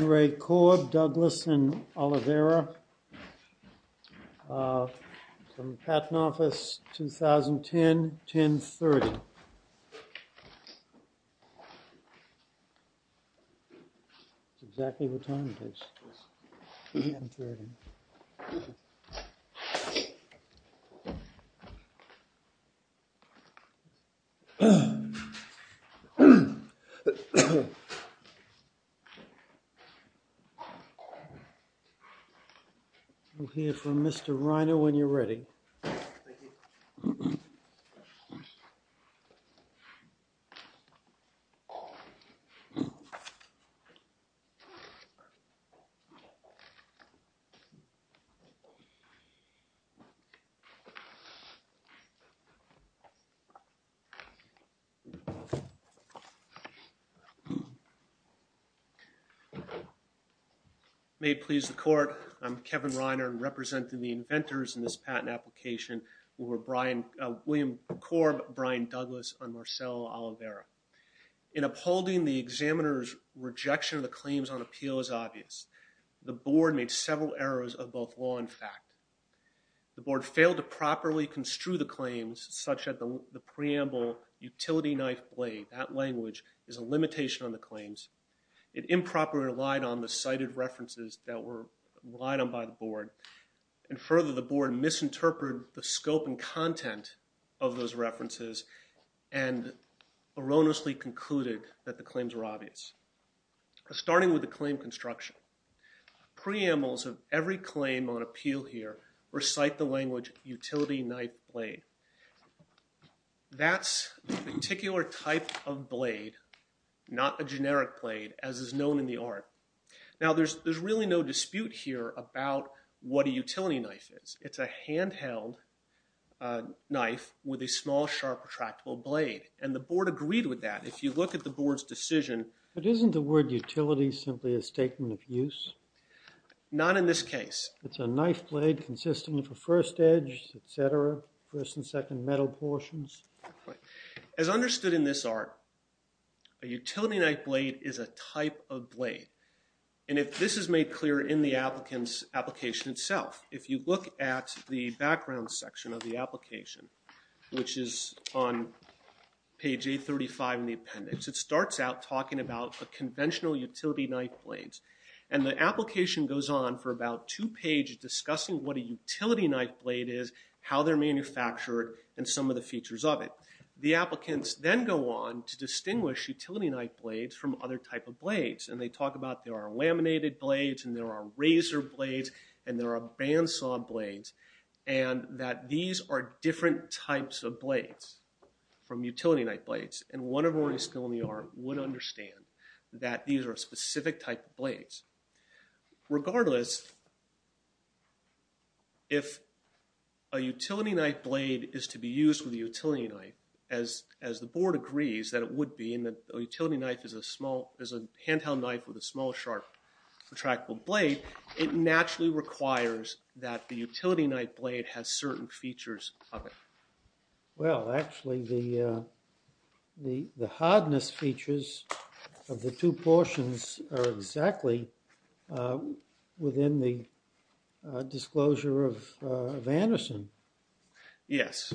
RE KORB, DOUGLAS AND OLIVERA, PATENT OFFICE, 2010-10-30 We'll hear from Mr. Reiner when you're ready. May it please the Court, I'm Kevin Reiner, representing the inventors in this patent application, William Korb, Brian Douglas, and Marcel Oliveira. In upholding the examiner's rejection of the claims on appeal as obvious, the Board made several errors of both law and fact. The Board failed to properly construe the claims such that the preamble, utility knife blade, that language, is a limitation on the claims. It improperly relied on the cited references that were relied on by the Board. And further, the Board misinterpreted the scope and content of those references and erroneously concluded that the claims were obvious. Starting with the claim construction, preambles of every claim on appeal here recite the language, utility knife blade. That's a particular type of blade, not a generic blade, as is known in the art. Now, there's really no dispute here about what a utility knife is. It's a handheld knife with a small, sharp, retractable blade. And the Board agreed with that. If you look at the Board's decision... But isn't the word utility simply a statement of use? Not in this case. It's a knife blade consistently for first edge, et cetera, first and second metal portions. As understood in this art, a utility knife blade is a type of blade. And this is made clear in the applicant's application itself. If you look at the background section of the application, which is on page 835 in the appendix, it starts out talking about a conventional utility knife blade. And the application goes on for about two pages discussing what a utility knife blade is, how they're manufactured, and some of the features of it. The applicants then go on to distinguish utility knife blades from other types of blades. And they talk about there are laminated blades, and there are razor blades, and there are bandsaw blades. And that these are different types of blades from utility knife blades. And one of our skill in the art would understand that these are specific type of blades. Regardless, if a utility knife blade is to be used with a utility knife, as the Board agrees that it would be, and that a utility knife is a small, is a handheld knife with a small, sharp, retractable blade, it naturally requires that the utility knife blade has certain features of it. Well, actually, the hardness features of the two portions are exactly within the disclosure of Anderson. Yes,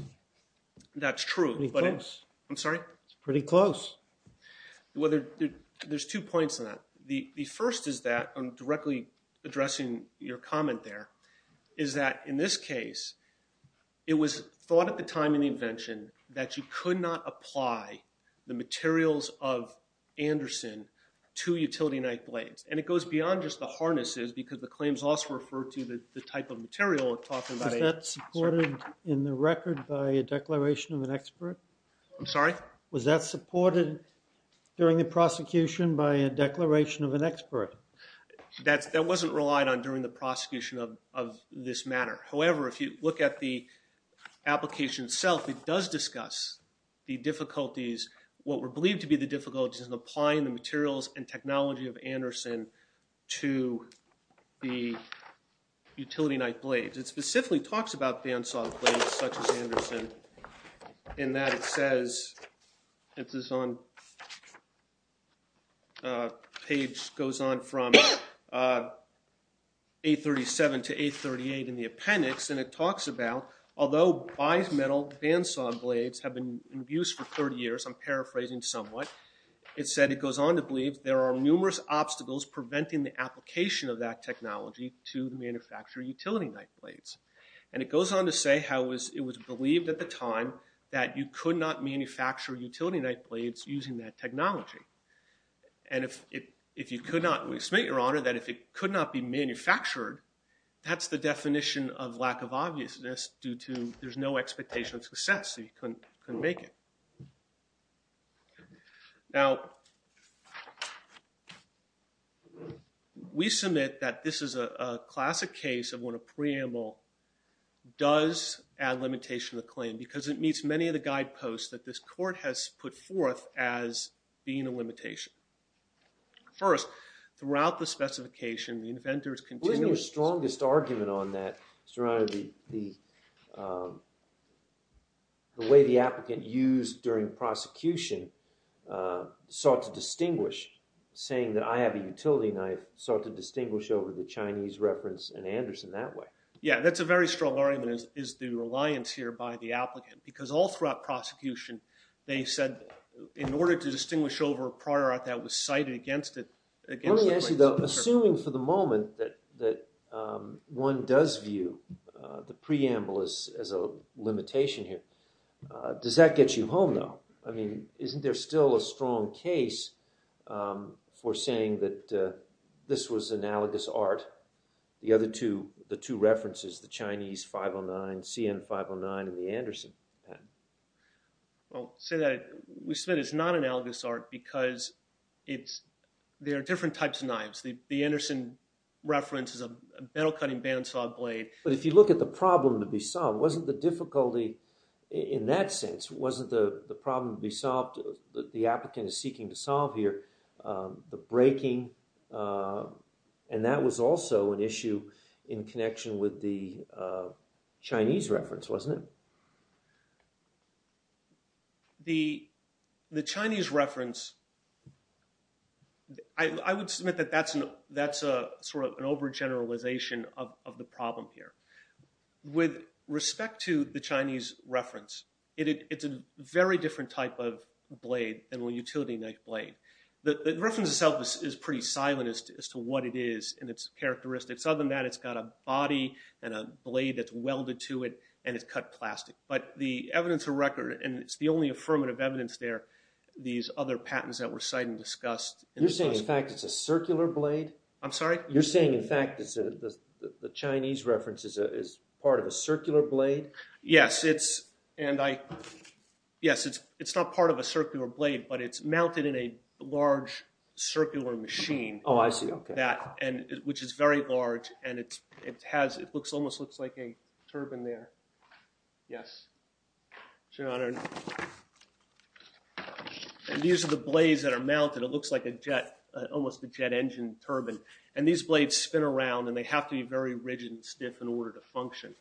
that's true. Pretty close. I'm sorry? Pretty close. Well, there's two points on that. The first is that, directly addressing your comment there, is that in this case, it was thought at the time of the invention that you could not apply the materials of Anderson to utility knife blades. And it goes beyond just the harnesses, because the claims also refer to the type of material we're talking about. Was that supported in the record by a declaration of an expert? I'm sorry? Was that supported during the prosecution by a declaration of an expert? That wasn't relied on during the prosecution of this matter. However, if you look at the application itself, it does discuss the difficulties, what were believed to be the difficulties in applying the materials and technology of Anderson to the utility knife blades. It specifically talks about bandsaw blades such as Anderson in that it says, it goes on from 837 to 838 in the appendix, and it talks about, although bimetal bandsaw blades have been in use for 30 years, I'm paraphrasing somewhat, it said it goes on to believe there are numerous obstacles preventing the application of that technology to the manufacturer of utility knife blades. And it goes on to say how it was believed at the time that you could not manufacture utility knife blades using that technology. And if you could not, we submit, Your Honor, that if it could not be manufactured, that's the definition of lack of obviousness due to there's no expectation of success, so you couldn't make it. Now, we submit that this is a classic case of when a preamble does add limitation to the claim because it meets many of the guideposts that this court has put forth as being a limitation. First, throughout the specification, the inventors continue to- during prosecution sought to distinguish, saying that I have a utility knife, sought to distinguish over the Chinese reference and Anderson that way. Yeah, that's a very strong argument is the reliance here by the applicant because all throughout prosecution, they said in order to distinguish over a product that was cited against it- Let me ask you though, assuming for the moment that one does view the preamble as a limitation here, does that get you home though? I mean, isn't there still a strong case for saying that this was analogous art, the other two, the two references, the Chinese 509, CN 509, and the Anderson patent? Well, to say that, we submit it's not analogous art because it's- there are different types of knives. The Anderson reference is a metal cutting bandsaw blade. But if you look at the problem to be solved, wasn't the difficulty in that sense, wasn't the problem to be solved that the applicant is seeking to solve here, the breaking, and that was also an issue in connection with the Chinese reference, wasn't it? The Chinese reference, I would submit that that's sort of an overgeneralization of the problem here. With respect to the Chinese reference, it's a very different type of blade than a utility knife blade. The reference itself is pretty silent as to what it is and its characteristics. Other than that, it's got a body and a blade that's welded to it, and it's cut plastic. But the evidence of record, and it's the only affirmative evidence there, these other patents that were cited and discussed- You're saying in fact it's a circular blade? I'm sorry? You're saying in fact the Chinese reference is part of a circular blade? Yes, it's- and I- yes, it's not part of a circular blade, but it's mounted in a large circular machine. Oh, I see. Okay. Which is very large, and it has- it almost looks like a turbine there. Yes. And these are the blades that are mounted. It looks like a jet- almost a jet engine turbine. And these blades spin around, and they have to be very rigid and stiff in order to function.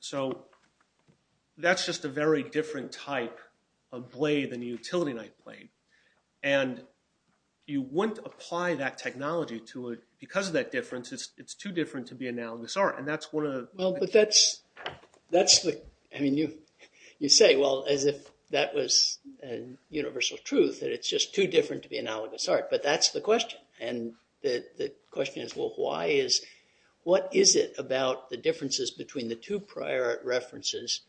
So that's just a very different type of blade than a utility knife blade. And you wouldn't apply that technology to it because of that difference. It's too different to be analogous art. And that's one of the- Well, but that's- that's the- I mean, you say, well, as if that was universal truth, that it's just too different to be analogous art. But that's the question. And the question is, well, why is- what is it about the differences between the two prior references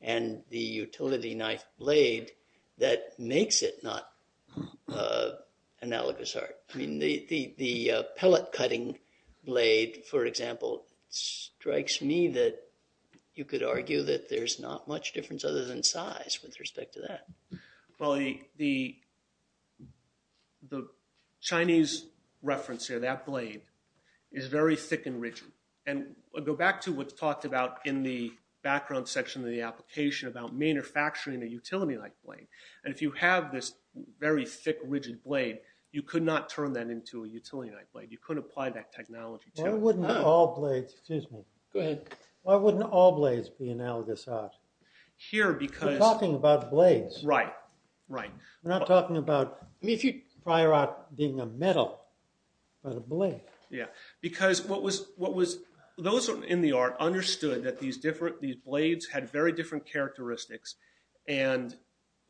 and the utility knife blade that makes it not analogous art? I mean, the pellet cutting blade, for example, strikes me that you could argue that there's not much difference other than size with respect to that. Well, the Chinese reference here, that blade, is very thick and rigid. And I'll go back to what's talked about in the background section of the application about manufacturing a utility knife blade. And if you have this very thick, rigid blade, you could not turn that into a utility knife blade. You couldn't apply that technology to it. Why wouldn't all blades- excuse me. Go ahead. Why wouldn't all blades be analogous art? Here, because- We're talking about blades. Right. Right. Yeah, because what was- those in the art understood that these different- these blades had very different characteristics and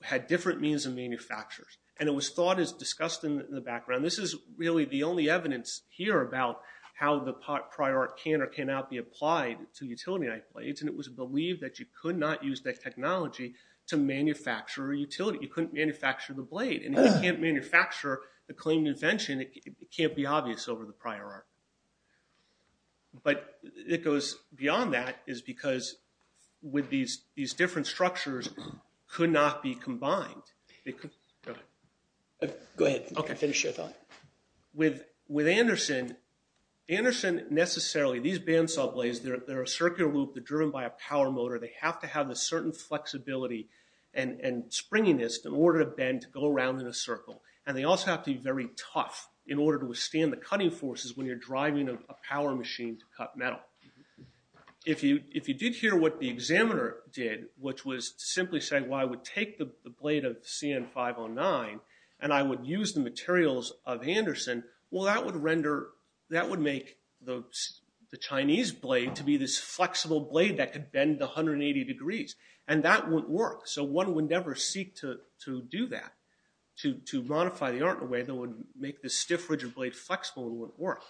had different means of manufacture. And it was thought as discussed in the background- this is really the only evidence here about how the prior art can or cannot be applied to utility knife blades. And it was believed that you could not use that technology to manufacture a utility. You couldn't manufacture the blade. And if you can't manufacture the claimed invention, it can't be obvious over the prior art. But it goes beyond that is because with these different structures could not be combined. Go ahead. Go ahead. Okay. Finish your thought. With Anderson, Anderson necessarily- these bandsaw blades, they're a circular loop. They're driven by a power motor. They have to have a certain flexibility and springiness in order to bend to go around in a circle. And they also have to be very tough in order to withstand the cutting forces when you're driving a power machine to cut metal. If you did hear what the examiner did, which was to simply say, well, I would take the blade of the CN-509 and I would use the materials of Anderson, well, that would render- that would make the Chinese blade to be this flexible blade that could bend 180 degrees. And that wouldn't work. So one would never seek to do that, to modify the art in a way that would make the stiff, rigid blade flexible and wouldn't work.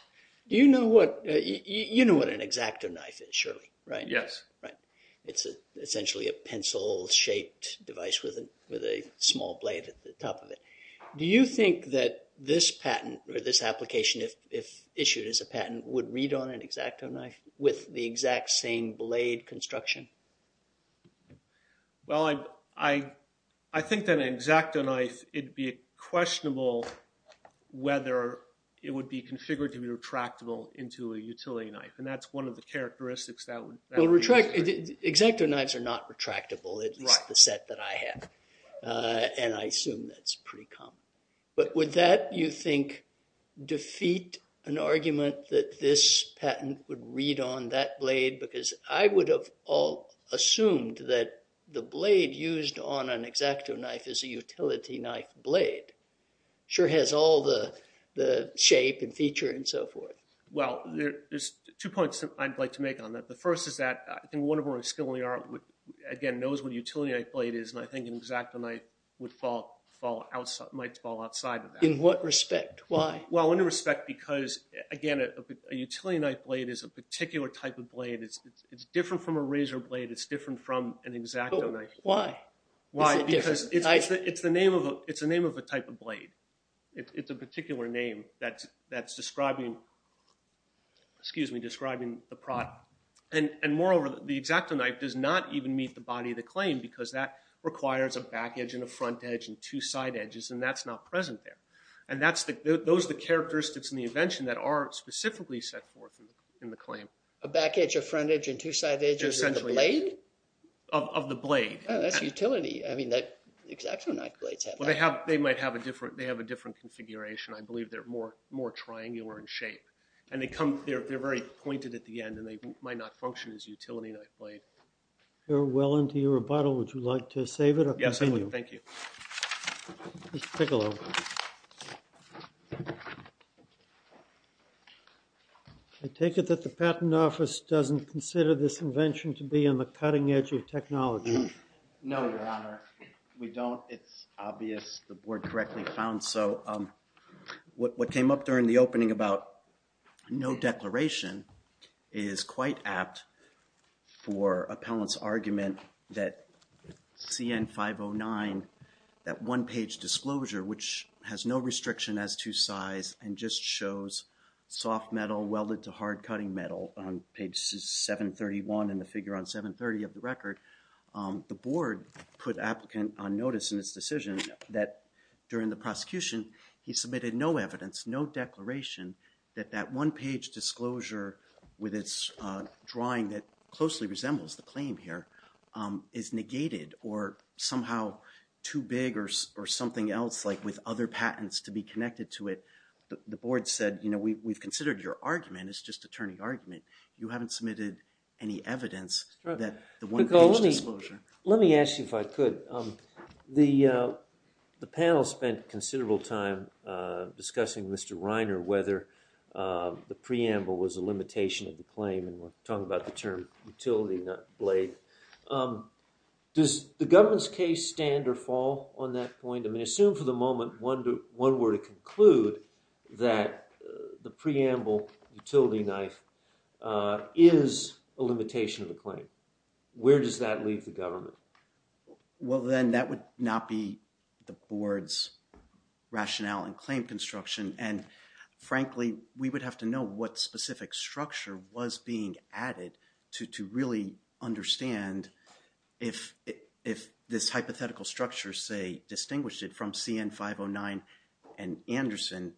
Do you know what- you know what an X-Acto knife is, surely, right? Yes. Right. It's essentially a pencil-shaped device with a small blade at the top of it. Do you think that this patent or this application, if issued as a patent, would read on an X-Acto knife with the exact same blade construction? Well, I think that an X-Acto knife, it'd be questionable whether it would be configured to be retractable into a utility knife. And that's one of the characteristics that would- X-Acto knives are not retractable, at least the set that I have. And I assume that's pretty common. But would that, you think, defeat an argument that this patent would read on that blade? Because I would have assumed that the blade used on an X-Acto knife is a utility knife blade. Sure has all the shape and feature and so forth. Well, there's two points I'd like to make on that. The first is that I think one of our skilled art, again, knows what a utility knife blade is. And I think an X-Acto knife might fall outside of that. In what respect? Why? Well, in respect because, again, a utility knife blade is a particular type of blade. It's different from a razor blade. It's different from an X-Acto knife. Why? Why? Because it's the name of a type of blade. It's a particular name that's describing the product. And moreover, the X-Acto knife does not even meet the body of the claim because that requires a back edge and a front edge and two side edges. And that's not present there. And those are the characteristics in the invention that are specifically set forth in the claim. A back edge, a front edge, and two side edges of the blade? Of the blade. Oh, that's utility. I mean, X-Acto knife blades have that. Well, they might have a different configuration. I believe they're more triangular in shape. And they're very pointed at the end, and they might not function as utility knife blade. We're well into your rebuttal. Would you like to save it or continue? Yes, thank you. Take a look. I take it that the Patent Office doesn't consider this invention to be on the cutting edge of technology. No, Your Honor. We don't. It's obvious the board correctly found so. What came up during the opening about no declaration is quite apt for appellant's argument that CN-509, that one-page disclosure which has no restriction as to size and just shows soft metal welded to hard cutting metal on page 731 in the figure on 730 of the record, the board put applicant on notice in its decision that during the prosecution he submitted no evidence, no declaration that that one-page disclosure with its drawing that closely resembles the claim here is negated or somehow too big or something else like with other patents to be connected to it. The board said, you know, we've considered your argument. It's just attorney argument. You haven't submitted any evidence that the one-page disclosure. Let me ask you if I could. The panel spent considerable time discussing Mr. Reiner whether the preamble was a limitation of the claim and we're talking about the term utility blade. Does the government's case stand or fall on that point? I mean, assume for the moment one were to conclude that the preamble utility knife is a limitation of the claim. Where does that leave the government? Well, then that would not be the board's rationale and claim construction. And frankly, we would have to know what specific structure was being added to really understand if this hypothetical structure, say, distinguished it from CN 509 and Anderson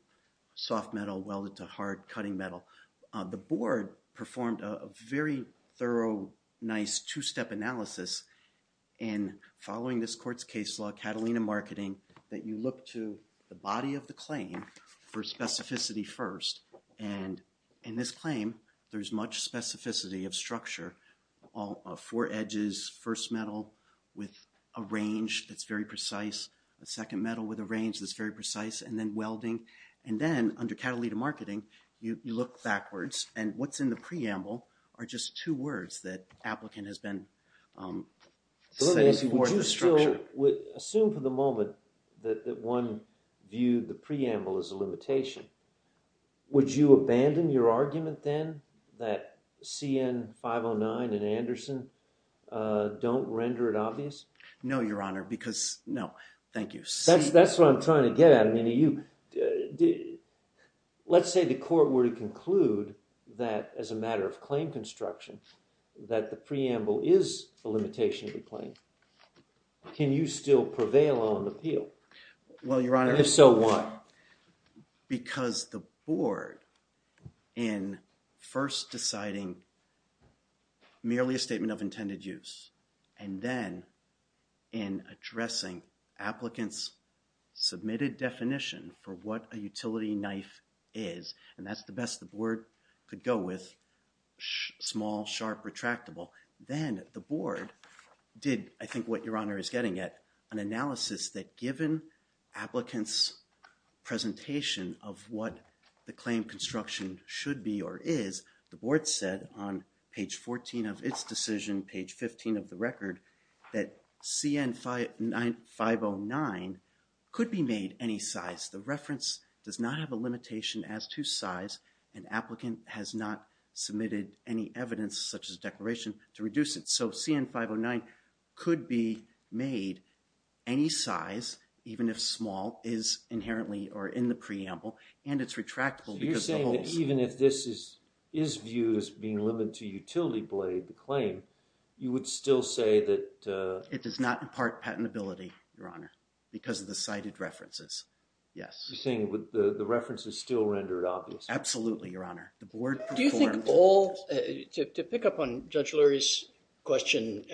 soft metal welded to hard cutting metal. The board performed a very thorough, nice two-step analysis in following this court's case law, Catalina Marketing, that you look to the body of the claim for specificity first. And in this claim, there's much specificity of structure, all four edges, first metal with a range that's very precise, a second metal with a range that's very precise, and then welding. And then under Catalina Marketing, you look backwards and what's in the preamble are just two words that applicant has been setting for the structure. Assume for the moment that one viewed the preamble as a limitation. Would you abandon your argument then that CN 509 and Anderson don't render it obvious? No, Your Honor, because, no, thank you. That's what I'm trying to get at. Let's say the court were to conclude that, as a matter of claim construction, that the preamble is a limitation of the claim. Can you still prevail on appeal? Well, Your Honor. If so, why? Because the board, in first deciding merely a statement of intended use, and then in addressing applicant's submitted definition for what a utility knife is, and that's the best the board could go with, small, sharp, retractable, then the board did, I think, what Your Honor is getting at, an analysis that given applicant's presentation of what the claim construction should be or is, the board said on page 14 of its decision, page 15 of the record, that CN 509 could be made any size. The reference does not have a limitation as to size, and applicant has not submitted any evidence, such as declaration, to reduce it. So CN 509 could be made any size, even if small, is inherently or in the preamble, and it's retractable because of the holes. So you're saying that even if this is viewed as being limited to utility blade, the claim, you would still say that... It does not impart patentability, Your Honor, because of the cited references. Yes. You're saying the reference is still rendered obvious. Absolutely, Your Honor. Do you think all... To pick up on Judge Lurie's question,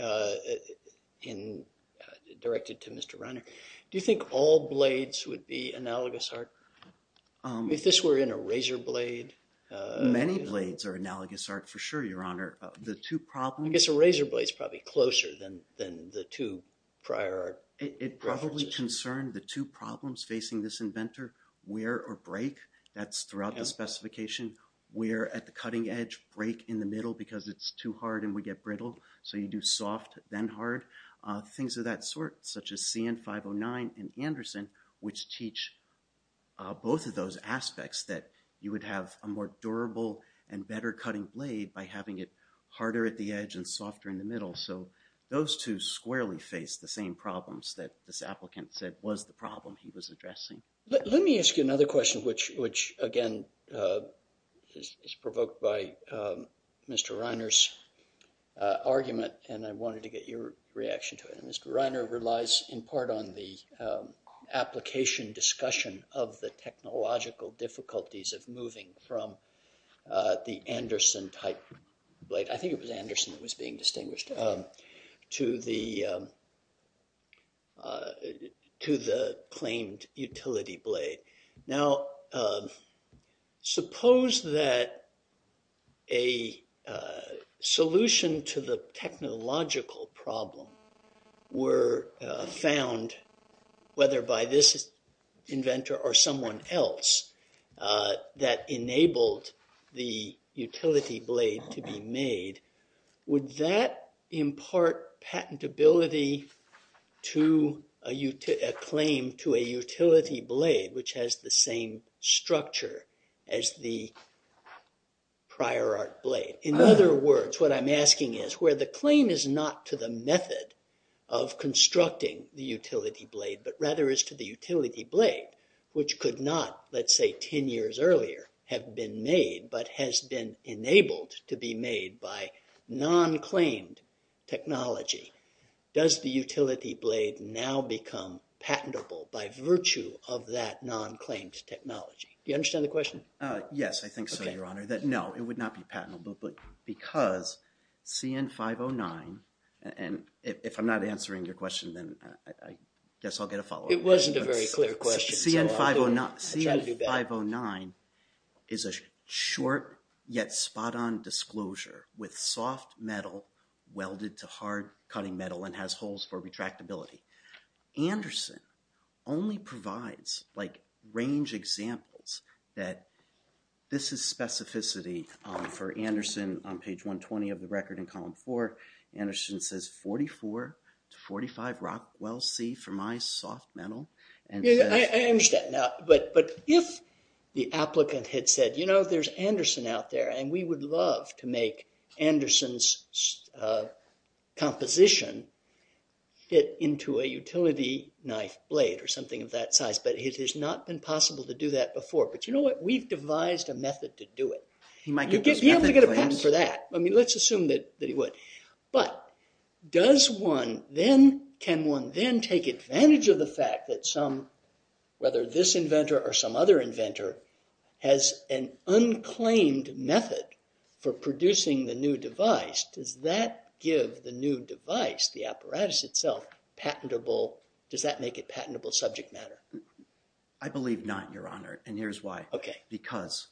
directed to Mr. Reiner, do you think all blades would be analogous art? If this were in a razor blade... Many blades are analogous art for sure, Your Honor. The two problems... I guess a razor blade is probably closer than the two prior art references. It probably concerned the two problems facing this inventor, wear or break. That's throughout the specification. Wear at the cutting edge, break in the middle because it's too hard and would get brittle. So you do soft, then hard. Things of that sort, such as CN 509 and Anderson, which teach both of those aspects that you would have a more durable and better cutting blade by having it harder at the edge and softer in the middle. So those two squarely face the same problems that this applicant said was the problem he was addressing. Let me ask you another question, which again is provoked by Mr. Reiner's argument, and I wanted to get your reaction to it. Mr. Reiner relies in part on the application discussion of the technological difficulties of moving from the Anderson-type blade. I think it was Anderson that was being distinguished to the claimed utility blade. Now, suppose that a solution to the technological problem were found, whether by this inventor or someone else, that enabled the utility blade to be made. Would that impart patentability to a claim to a utility blade, which has the same structure as the prior art blade? In other words, what I'm asking is, where the claim is not to the method of constructing the utility blade, but rather is to the utility blade, which could not, let's say 10 years earlier, have been made, but has been enabled to be made by non-claimed technology. Does the utility blade now become patentable by virtue of that non-claimed technology? Do you understand the question? Yes, I think so, Your Honor. No, it would not be patentable because CN-509, and if I'm not answering your question, then I guess I'll get a follow-up. It wasn't a very clear question. CN-509 is a short yet spot-on disclosure with soft metal welded to hard cutting metal and has holes for retractability. Anderson only provides, like, range examples that this is specificity for Anderson. On page 120 of the record in column four, Anderson says 44 to 45 Rockwell C for my soft metal. I understand. But if the applicant had said, you know, there's Anderson out there, and we would love to make Anderson's composition fit into a utility knife blade or something of that size, but it has not been possible to do that before. But you know what? We've devised a method to do it. You might be able to get a patent for that. I mean, let's assume that he would. But does one then, can one then take advantage of the fact that some, whether this inventor or some other inventor, has an unclaimed method for producing the new device, does that give the new device, the apparatus itself, patentable, does that make it patentable subject matter? I believe not, your honor, and here's why. Because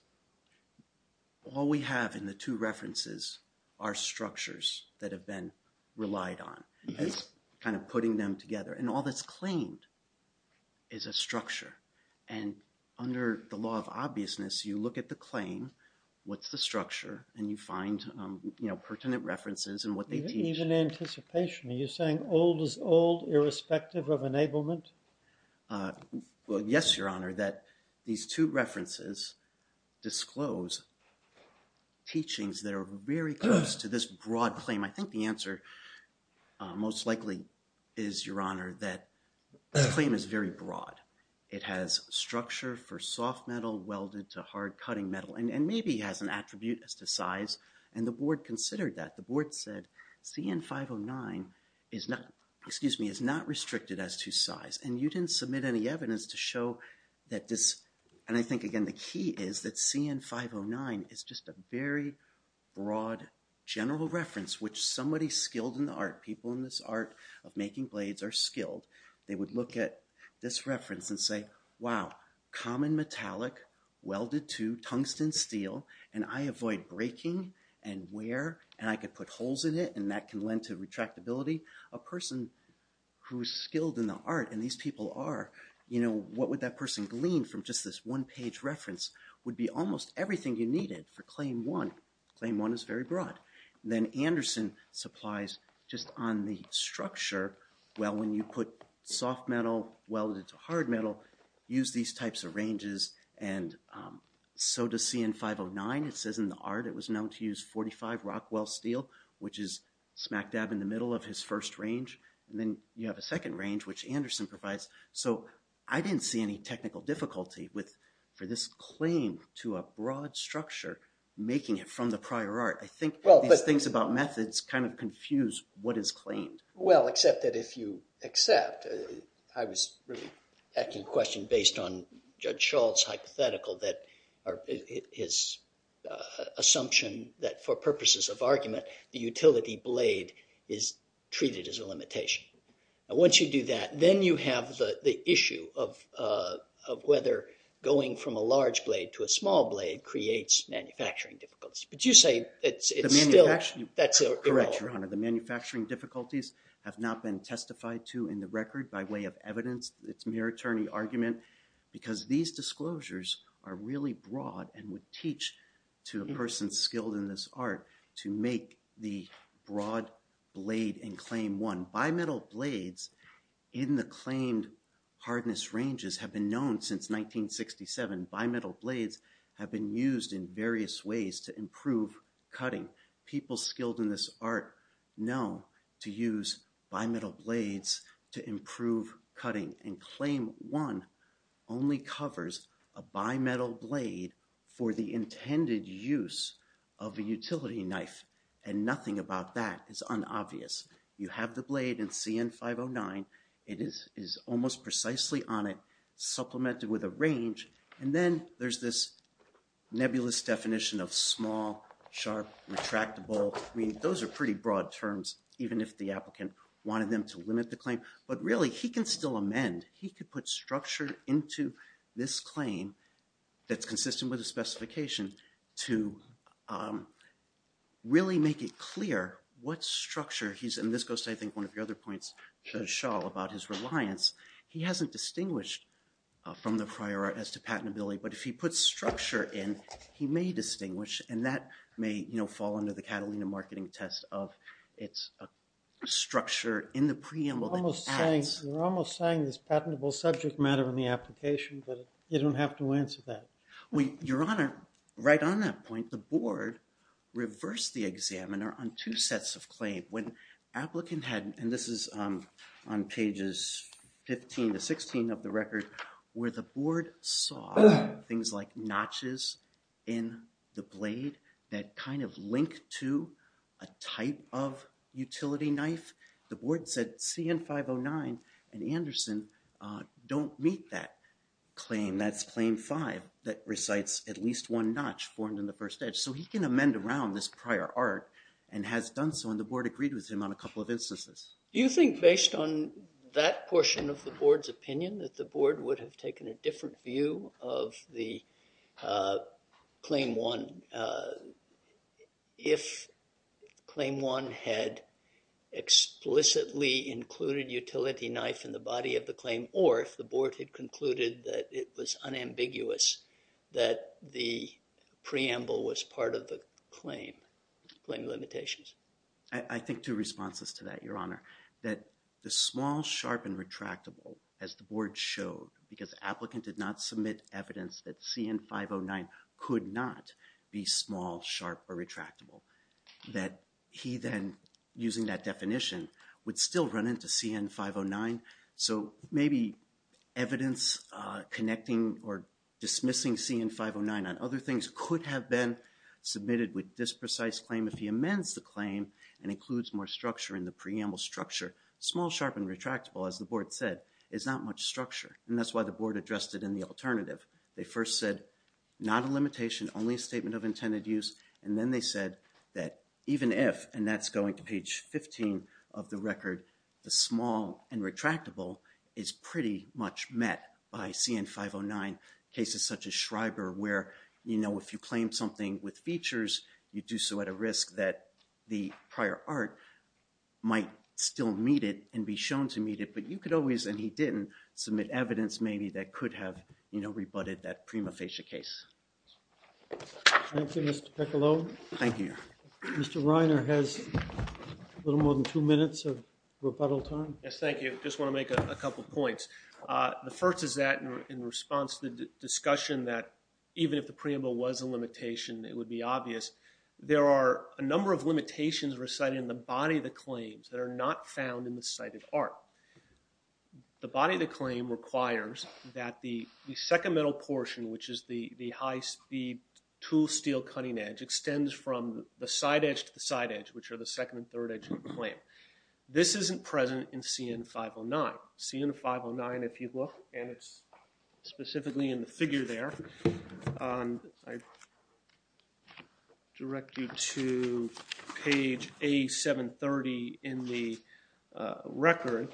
all we have in the two references are structures that have been relied on. It's kind of putting them together, and all that's claimed is a structure. And under the law of obviousness, you look at the claim, what's the structure, and you find, you know, pertinent references and what they teach. Even anticipation. Are you saying old is old, irrespective of enablement? Well, yes, your honor, that these two references disclose teachings that are very close to this broad claim. I think the answer most likely is, your honor, that this claim is very broad. It has structure for soft metal welded to hard cutting metal, and maybe has an attribute as to size, and the board considered that. The board said CN-509 is not, excuse me, is not restricted as to size. And you didn't submit any evidence to show that this, and I think, again, the key is that CN-509 is just a very broad general reference, which somebody skilled in the art, people in this art of making blades are skilled. They would look at this reference and say, wow, common metallic, welded to tungsten steel, and I avoid breaking and wear, and I could put holes in it, and that can lend to retractability. A person who's skilled in the art, and these people are, you know, what would that person glean from just this one page reference would be almost everything you needed for claim one. Claim one is very broad. Then Anderson supplies just on the structure, well, when you put soft metal welded to hard metal, use these types of ranges, and so does CN-509. It says in the art it was known to use 45 Rockwell steel, which is smack dab in the middle of his first range. And then you have a second range, which Anderson provides. So I didn't see any technical difficulty for this claim to a broad structure, making it from the prior art. I think these things about methods kind of confuse what is claimed. Well, except that if you accept, I was really asking a question based on Judge Schultz's hypothetical, his assumption that for purposes of argument, the utility blade is treated as a limitation. Now, once you do that, then you have the issue of whether going from a large blade to a small blade creates manufacturing difficulties. But you say it's still, that's irrelevant. Correct, Your Honor. The manufacturing difficulties have not been testified to in the record by way of evidence. It's mere attorney argument because these disclosures are really broad and would teach to a person skilled in this art to make the broad blade in claim one. Now, bimetal blades in the claimed hardness ranges have been known since 1967. Bimetal blades have been used in various ways to improve cutting. People skilled in this art know to use bimetal blades to improve cutting. And claim one only covers a bimetal blade for the intended use of a utility knife. And nothing about that is unobvious. You have the blade in CN-509. It is almost precisely on it, supplemented with a range. And then there's this nebulous definition of small, sharp, retractable. I mean, those are pretty broad terms, even if the applicant wanted them to limit the claim. But really, he can still amend. He could put structure into this claim that's consistent with the specification to really make it clear what structure he's in. This goes to, I think, one of your other points, Judge Schall, about his reliance. He hasn't distinguished from the prior art as to patentability. But if he puts structure in, he may distinguish. And that may fall under the Catalina marketing test of it's a structure in the preamble that he adds. We're almost saying this patentable subject matter in the application. But you don't have to answer that. Your Honor, right on that point, the board reversed the examiner on two sets of claim. When applicant had, and this is on pages 15 to 16 of the record, where the board saw things like notches in the blade that kind of link to a type of utility knife. The board said CN-509 and Anderson don't meet that claim. That's claim five that recites at least one notch formed in the first edge. So he can amend around this prior art and has done so. And the board agreed with him on a couple of instances. Do you think based on that portion of the board's opinion that the board would have taken a different view of the claim one? If claim one had explicitly included utility knife in the body of the claim or if the board had concluded that it was unambiguous that the preamble was part of the claim, claim limitations. I think two responses to that, Your Honor. That the small, sharp, and retractable, as the board showed, because applicant did not submit evidence that CN-509 could not be small, sharp, or retractable. That he then, using that definition, would still run into CN-509. So maybe evidence connecting or dismissing CN-509 on other things could have been submitted with this precise claim. If he amends the claim and includes more structure in the preamble structure, small, sharp, and retractable, as the board said, is not much structure. And that's why the board addressed it in the alternative. They first said not a limitation, only a statement of intended use. And then they said that even if, and that's going to page 15 of the record, the small and retractable is pretty much met by CN-509. Cases such as Schreiber where, you know, if you claim something with features, you do so at a risk that the prior art might still meet it and be shown to meet it. But you could always, and he didn't, submit evidence maybe that could have, you know, rebutted that prima facie case. Thank you, Mr. Piccolo. Thank you. Mr. Reiner has a little more than two minutes of rebuttal time. Yes, thank you. I just want to make a couple of points. The first is that in response to the discussion that even if the preamble was a limitation, it would be obvious, there are a number of limitations recited in the body of the claims that are not found in the cited art. The body of the claim requires that the second metal portion, which is the high speed tool steel cutting edge, extends from the side edge to the side edge, which are the second and third edge of the claim. This isn't present in CN-509. CN-509, if you look, and it's specifically in the figure there, I direct you to page A-730 in the record,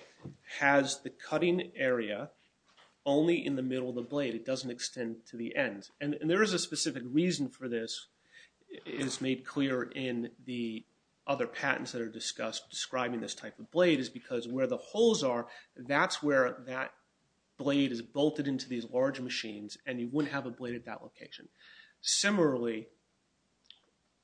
has the cutting area only in the middle of the blade. It doesn't extend to the end. And there is a specific reason for this, as made clear in the other patents that are discussed describing this type of blade, is because where the holes are, that's where that blade is bolted into these large machines, and you wouldn't have a blade at that location. Similarly,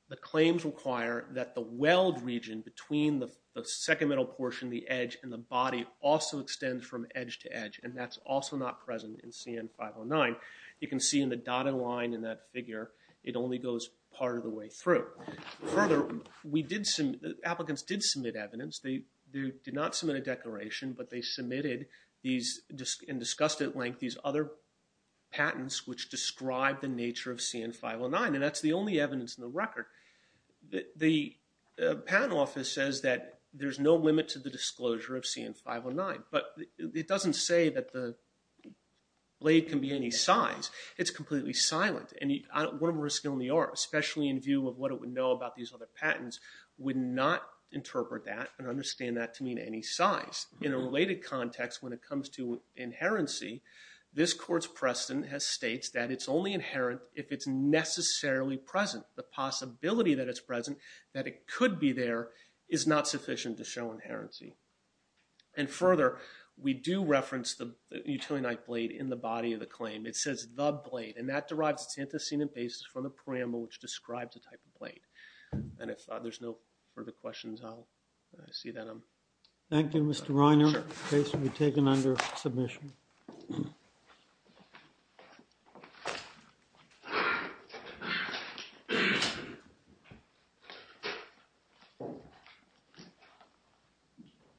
the claims require that the weld region between the second metal portion, the edge, and the body, also extends from edge to edge, and that's also not present in CN-509. You can see in the dotted line in that figure, it only goes part of the way through. Further, applicants did submit evidence. They did not submit a declaration, but they submitted and discussed at length these other patents which describe the nature of CN-509, and that's the only evidence in the record. The patent office says that there's no limit to the disclosure of CN-509, but it doesn't say that the blade can be any size. It's completely silent, and one of the risks, especially in view of what it would know about these other patents, would not interpret that and understand that to mean any size. In a related context, when it comes to inherency, this court's precedent states that it's only inherent if it's necessarily present. The possibility that it's present, that it could be there, is not sufficient to show inherency. And further, we do reference the utility knife blade in the body of the claim. It says the blade, and that derives its antecedent basis from the parameter which describes the type of blade. And if there's no further questions, I'll see that I'm done. Thank you, Mr. Reiner. The case will be taken under submission.